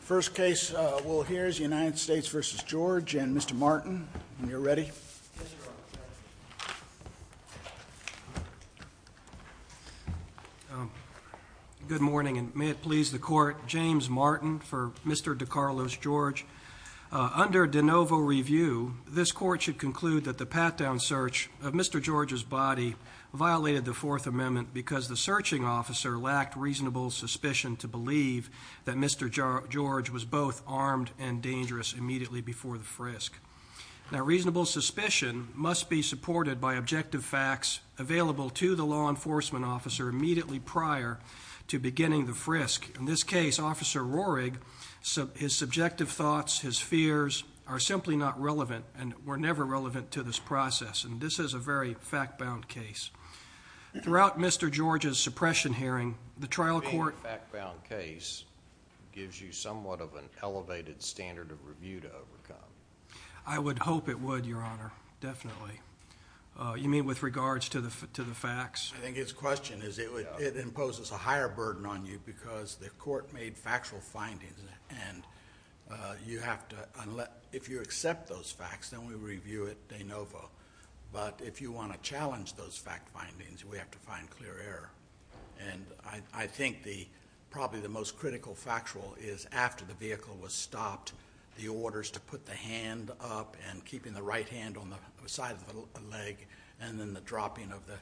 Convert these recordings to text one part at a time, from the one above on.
First case we'll hear is United States v. George and Mr. Martin. You're ready? Good morning and may it please the court. James Martin for Mr. DeCarlos George. Under DeNovo review, this court should conclude that the pat-down search of Mr. George's body violated the Fourth Amendment because the searching officer lacked reasonable suspicion to believe that Mr. George was both armed and dangerous immediately before the frisk. Now reasonable suspicion must be supported by objective facts available to the law enforcement officer immediately prior to beginning the frisk. In this case, Officer Roehrig, his subjective thoughts, his fears are simply not relevant and were never relevant to this process and this is a very fact-bound case. Throughout Mr. George's suppression hearing, the trial court- Being a fact-bound case gives you somewhat of an elevated standard of review to overcome. I would hope it would, Your Honor, definitely. You mean with regards to the facts? I think his question is it imposes a higher burden on you because the court made factual findings and if you accept those facts, then we review at DeNovo, but if you want to challenge those fact findings, we have to find clear error. I think probably the most critical factual is after the vehicle was stopped, the orders to put the hand up and keeping the right hand on the side of the leg and then the dropping of the...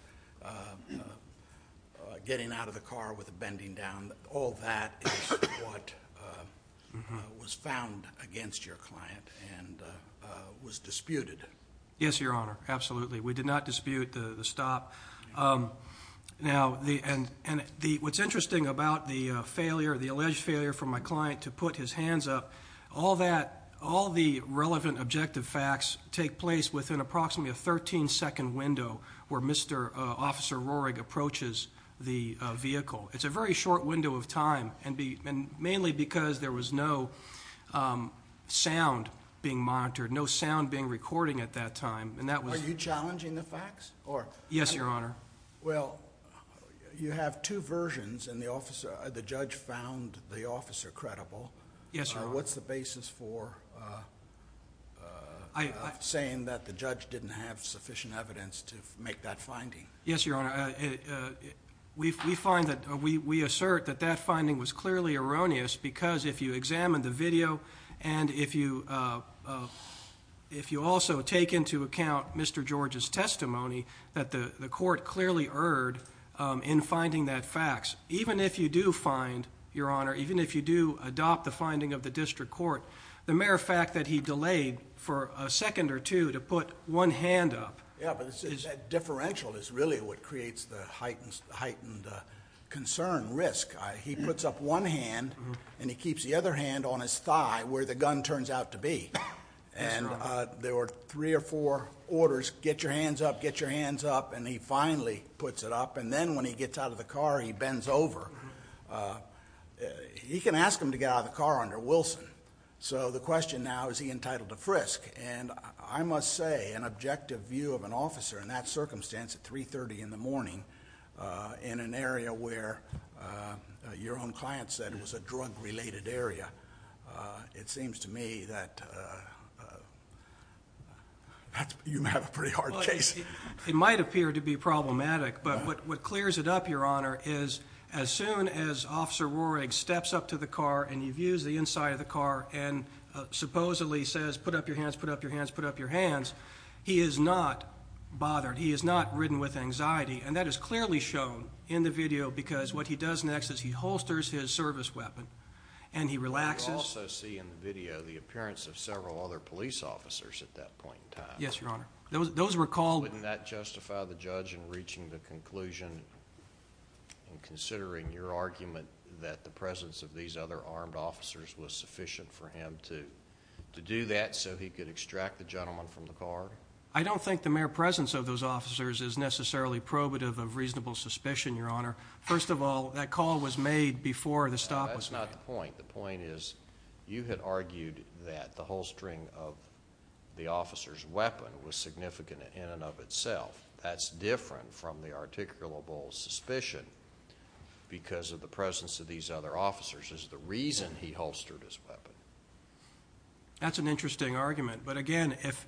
getting out of the car with the bending down. All that is what was found against your client and was disputed. Yes, Your Honor. Absolutely. We did not dispute the stop. What's interesting about the alleged failure from my client to put his hands up, all the relevant objective facts take place within approximately a 13 second window where Mr. Officer Roehrig approaches the vehicle. It's a very short window of time and mainly because there was no sound being monitored, no sound being recorded at that time and that was- Are you challenging the facts or- Yes, Your Honor. Well, you have two versions and the judge found the officer credible. Yes, Your Honor. What's the basis for saying that the judge didn't have sufficient evidence to make that finding? Yes, Your Honor. We find that... we assert that that finding was clearly erroneous because if you examine the video and if you also take into account Mr. George's testimony that the court clearly erred in finding that facts. Even if you do find, Your Honor, even if you do adopt the finding of the district court, the mere fact that he delayed for a second or two to put one hand up- Yes, but that differential is really what creates the heightened concern, risk. He puts up one hand and he keeps the other hand on his thigh where the gun turns out to be. Yes, Your Honor. And there were three or four orders, get your hands up, get your hands up and he finally puts it up. And then when he gets out of the car, he bends over. He can ask him to get out of the car under Wilson. So the question now, is he entitled to frisk? And I must say an objective view of an officer in that circumstance at 3.30 in the morning in an area where your own client said it was a drug-related area, it seems to me that you have a pretty hard case. It might appear to be problematic, but what clears it up, Your Honor, is as soon as Officer Roehrig steps up to the car and he views the inside of the car and supposedly says, put up your hands, put up your hands, put up your hands, he is not bothered. He is not ridden with anxiety. And that is clearly shown in the video because what he does next is he holsters his service weapon and he relaxes- We also see in the video the appearance of several other police officers at that point in time. Yes, Your Honor. Those were called- Wouldn't that justify the judge in reaching the conclusion and considering your argument that the presence of these other armed officers was sufficient for him to do that so he could extract the gentleman from the car? I don't think the mere presence of those officers is necessarily probative of reasonable suspicion, Your Honor. First of all, that call was made before the stop was made. That's not the point. The point is you had argued that the holstering of the officer's weapon was significant in and of itself. That's different from the articulable suspicion because of the presence of these other officers is the reason he holstered his weapon. That's an interesting argument, but again, if-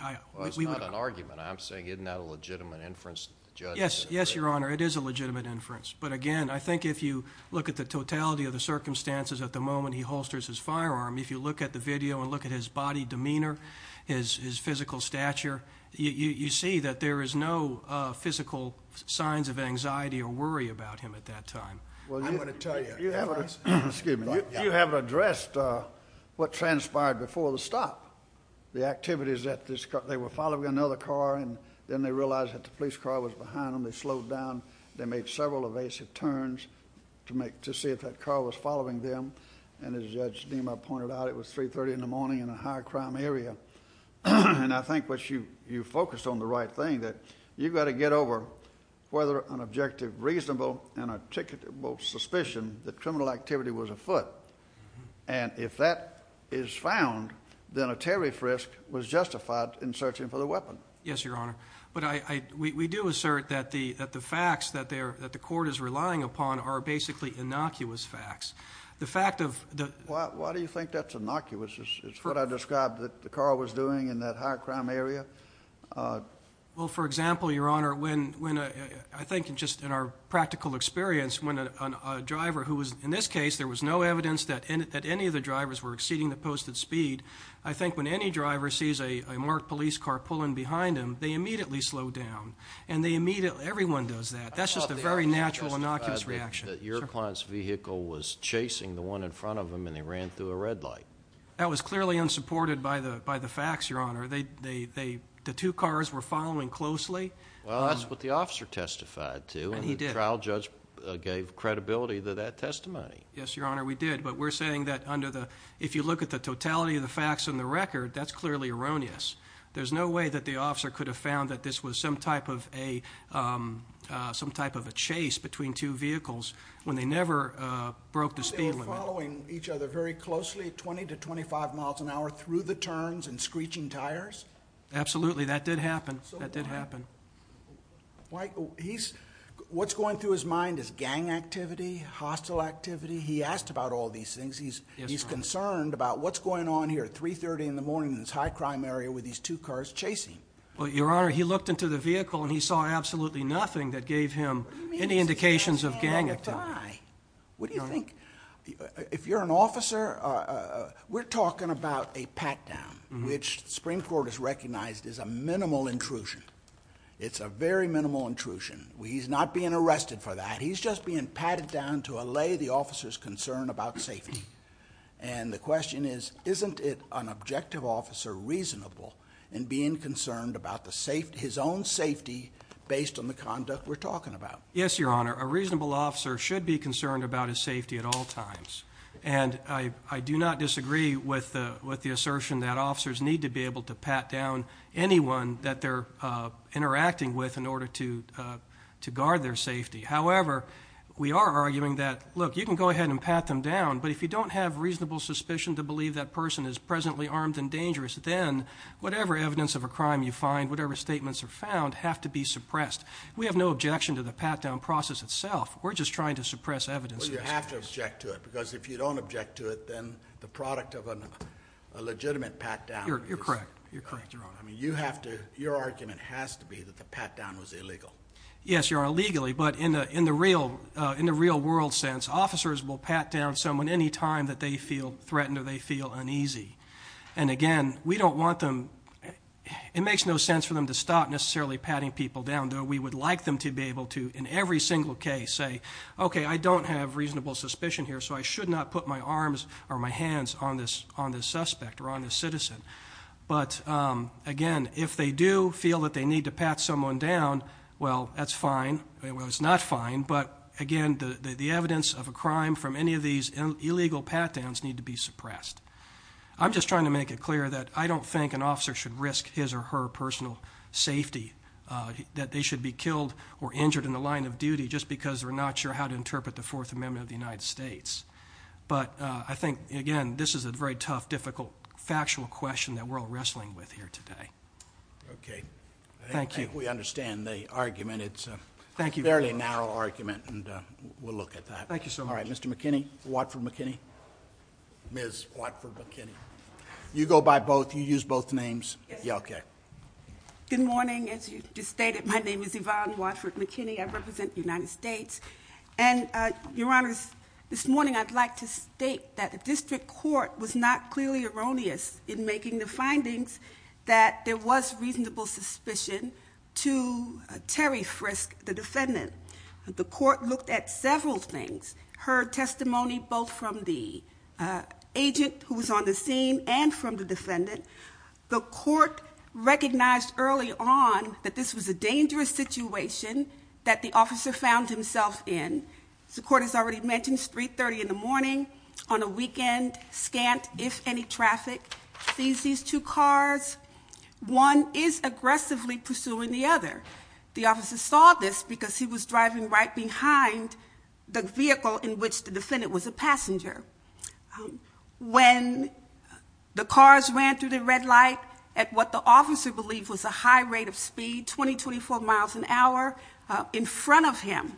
Well, it's not an argument. I'm saying isn't that a legitimate inference that the judge- Yes, Your Honor. It is a legitimate inference. But again, I think if you look at the totality of the circumstances at the moment he holsters his firearm, if you look at the video and look at his body demeanor, his physical stature, you see that there is no physical signs of anxiety or worry about him at that time. Well, I'm going to tell you, Your Honor. Excuse me. You have addressed what transpired before the stop. The activities at this car. They were following another car, and then they realized that the police car was behind them. They slowed down. They made several evasive turns to see if that car was following them. And as Judge Nima pointed out, it was 3.30 in the morning in a high crime area. And I think what you focused on the right thing, that you've got to get over whether an objective, reasonable, and articulable suspicion that criminal activity was afoot. And if that is found, then a Terry Frisk was justified in searching for the weapon. Yes, Your Honor. But we do assert that the facts that the court is relying upon are basically innocuous facts. The fact of the... Why do you think that's innocuous? It's what I described that the car was doing in that high crime area? Well, for example, Your Honor, when I think just in our practical experience, when a driver who was, in this case, there was no evidence that any of the drivers were exceeding the slow down. And they immediately, everyone does that. That's just a very natural innocuous reaction. I thought the officer testified that your client's vehicle was chasing the one in front of them and they ran through a red light. That was clearly unsupported by the facts, Your Honor. They, the two cars were following closely. Well, that's what the officer testified to. And he did. And the trial judge gave credibility to that testimony. Yes, Your Honor, we did. But we're saying that under the, if you look at the totality of the facts in the record, that's clearly erroneous. There's no way that the officer could have found that this was some type of a, some type of a chase between two vehicles when they never broke the speed limit. They were following each other very closely, 20 to 25 miles an hour, through the turns and screeching tires? Absolutely. That did happen. That did happen. Why, he's, what's going through his mind is gang activity, hostile activity. He asked about all these things. Yes, Your Honor. And he's concerned about what's going on here at 3.30 in the morning in this high crime area with these two cars chasing. But, Your Honor, he looked into the vehicle and he saw absolutely nothing that gave him any indications of gang activity. What do you mean it's gang activity? What do you think? If you're an officer, we're talking about a pat down, which the Supreme Court has recognized is a minimal intrusion. It's a very minimal intrusion. He's not being arrested for that. He's just being patted down to allay the officer's concern about safety. And the question is, isn't it an objective officer reasonable in being concerned about his own safety based on the conduct we're talking about? Yes, Your Honor. A reasonable officer should be concerned about his safety at all times. And I do not disagree with the assertion that officers need to be able to pat down anyone that they're interacting with in order to guard their safety. However, we are arguing that, look, you can go ahead and pat them down, but if you don't have reasonable suspicion to believe that person is presently armed and dangerous, then whatever evidence of a crime you find, whatever statements are found, have to be suppressed. We have no objection to the pat down process itself. We're just trying to suppress evidence. Well, you have to object to it, because if you don't object to it, then the product of a legitimate pat down is... Your argument has to be that the pat down was illegal. Yes, Your Honor, legally. But in the real world sense, officers will pat down someone any time that they feel threatened or they feel uneasy. And again, we don't want them... It makes no sense for them to stop necessarily patting people down, though we would like them to be able to, in every single case, say, okay, I don't have reasonable suspicion here, so I should not put my arms or my hands on this suspect or on this citizen. But again, if they do feel that they need to pat someone down, well, that's fine. It's not fine, but again, the evidence of a crime from any of these illegal pat downs need to be suppressed. I'm just trying to make it clear that I don't think an officer should risk his or her personal safety, that they should be killed or injured in the line of duty just because they're not sure how to interpret the Fourth Amendment of the United States. But I think, again, this is a very tough, difficult, factual question that we're all wrestling with here today. Okay. I think we understand the argument. It's a fairly narrow argument, and we'll look at that. All right. Mr. McKinney, Watford McKinney. Ms. Watford McKinney. You go by both. You use both names. Yes. Good morning. As you just stated, my name is Yvonne Watford McKinney. I represent the United States. And, Your Honor, this morning I'd like to state that the district court was not clearly erroneous in making the findings that there was reasonable suspicion to Terry Frisk, the defendant. The court looked at several things, heard testimony both from the agent who was on the scene and from the defendant. The court recognized early on that this was a dangerous situation that the officer found himself in. The court has already mentioned, it's 3.30 in the morning, on a weekend, scant if any traffic, sees these two cars. One is aggressively pursuing the other. The officer saw this because he was driving right behind the vehicle in which the defendant was a passenger. When the cars ran through the red light at what the officer believed was a high rate of speed, 20-24 miles an hour in front of him.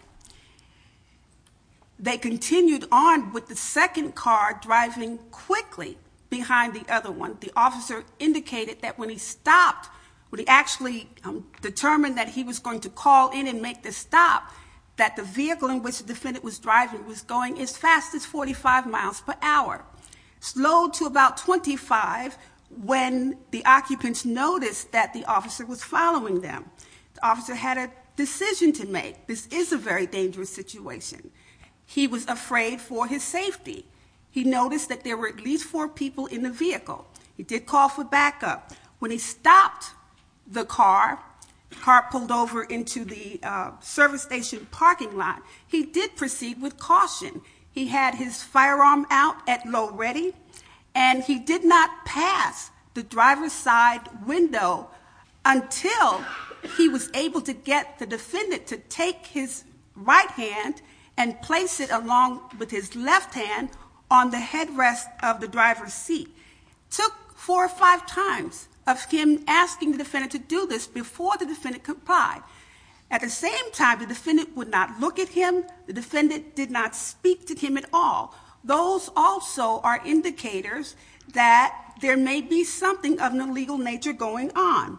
They continued on with the second car driving quickly behind the other one. The officer indicated that when he stopped, when he actually determined that he was going to call in and make the stop, that the vehicle in which the defendant was driving was going as fast as 45 miles per hour. Slowed to about 25 when the occupants noticed that the officer was following them. The officer had a decision to make. This is a very dangerous situation. He was afraid for his safety. He noticed that there were at least four people in the vehicle. He did call for backup. When he stopped the car, car pulled over into the service station parking lot, he did proceed with caution. He had his window until he was able to get the defendant to take his right hand and place it along with his left hand on the headrest of the driver's seat. It took four or five times of him asking the defendant to do this before the defendant complied. At the same time, the defendant would not look at him. The defendant did not speak to him at all. Those also are natural nature going on.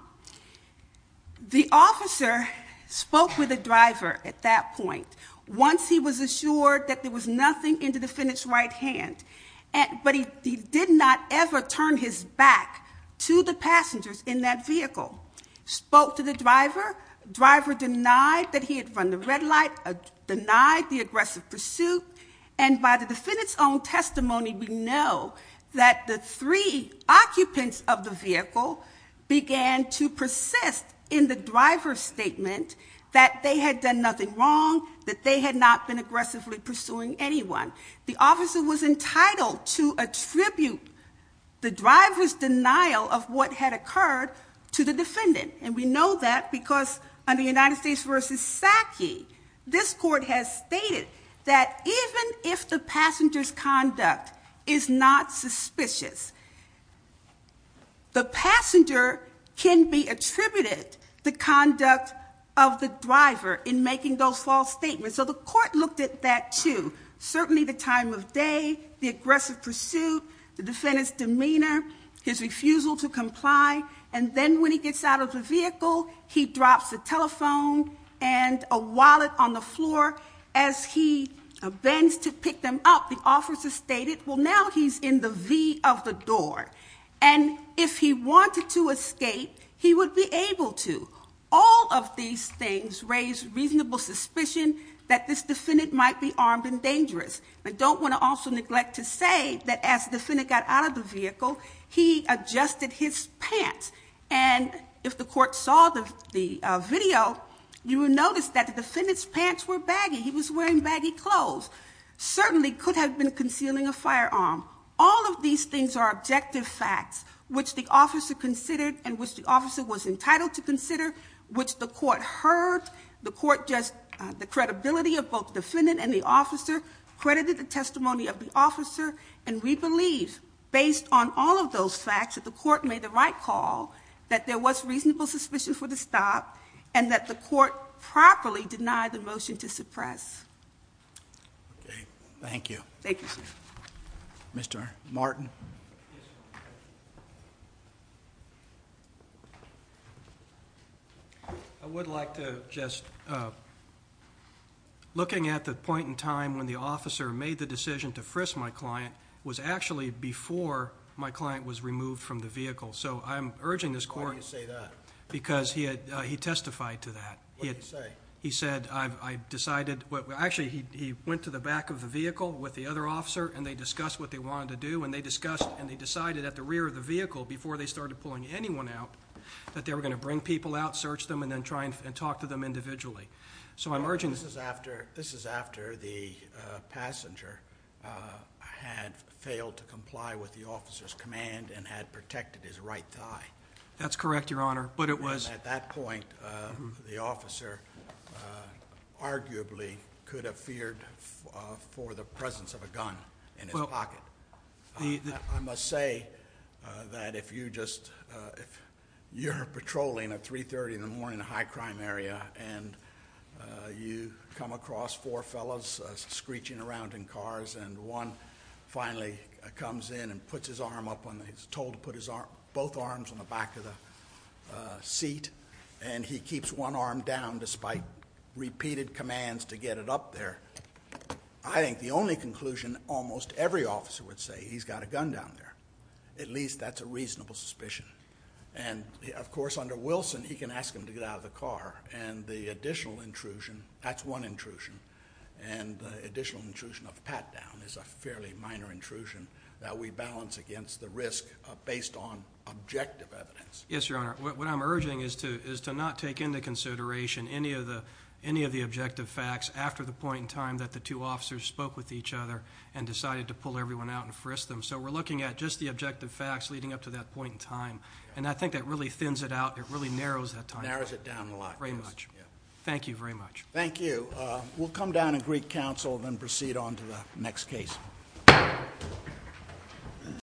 The officer spoke with the driver at that point. Once he was assured that there was nothing in the defendant's right hand, but he did not ever turn his back to the passengers in that vehicle. Spoke to the driver, driver denied that he had run the red light, denied the aggressive pursuit, and by the defendant's own testimony, we know that the three occupants of the vehicle began to persist in the driver's statement that they had done nothing wrong, that they had not been aggressively pursuing anyone. The officer was entitled to attribute the driver's denial of what had occurred to the defendant, and we know that because under United States v. Psaki, this court has stated that even if the passenger's conduct is not suspicious, the passenger can be attributed the conduct of the driver in making those false statements. So the court looked at that too. Certainly the time of day, the aggressive pursuit, the defendant's demeanor, his refusal to comply, and then when he gets out of the vehicle, he drops the telephone and a wallet on the floor. The officer stated, well now he's in the V of the door, and if he wanted to escape, he would be able to. All of these things raise reasonable suspicion that this defendant might be armed and dangerous. I don't want to also neglect to say that as the defendant got out of the vehicle, he adjusted his pants, and if the court saw the video, you would notice that the defendant's pants were baggy. He was wearing baggy clothes. Certainly could have been concealing a firearm. All of these things are objective facts which the officer considered and which the officer was entitled to consider, which the court heard. The court just, the credibility of both the defendant and the officer credited the testimony of the officer, and we believe based on all of those facts that the court made the right call, that there was reasonable suspicion for the stop, and that the court properly denied the motion to suppress. Okay. Thank you. Thank you, sir. Mr. Martin. I would like to just, looking at the point in time when the officer made the decision to frisk my client, was actually before my client was removed from the vehicle. So I'm urging this court... Why do you say that? Because he testified to that. What did he say? He said, I decided... Actually, he went to the back of the vehicle with the other officer, and they discussed what they wanted to do, and they discussed, and they decided at the rear of the vehicle, before they started pulling anyone out, that they were going to bring people out, search them, and then try and talk to them individually. So I'm urging... This is after the passenger had failed to comply with the officer's command, and had protected his right thigh. That's correct, Your Honor. But it was... At that point, the officer arguably could have feared for the presence of a gun in his pocket. I must say that if you just, if you're patrolling at 3.30 in the morning in a high school, you come across four fellows screeching around in cars, and one finally comes in and puts his arm up on... He's told to put both arms on the back of the seat, and he keeps one arm down, despite repeated commands to get it up there. I think the only conclusion almost every officer would say, he's got a gun down there. At least that's a reasonable suspicion. And of course, under Wilson, he can ask him to get out of the car, and the one intrusion, and the additional intrusion of pat down, is a fairly minor intrusion that we balance against the risk based on objective evidence. Yes, Your Honor. What I'm urging is to not take into consideration any of the objective facts after the point in time that the two officers spoke with each other, and decided to pull everyone out and frisk them. So we're looking at just the objective facts leading up to that point in time. And I think that really thins it out. It really narrows that time. Narrows it down a lot. Very much. Thank you very much. Thank you. We'll come down and greet counsel, and then proceed on to the next case.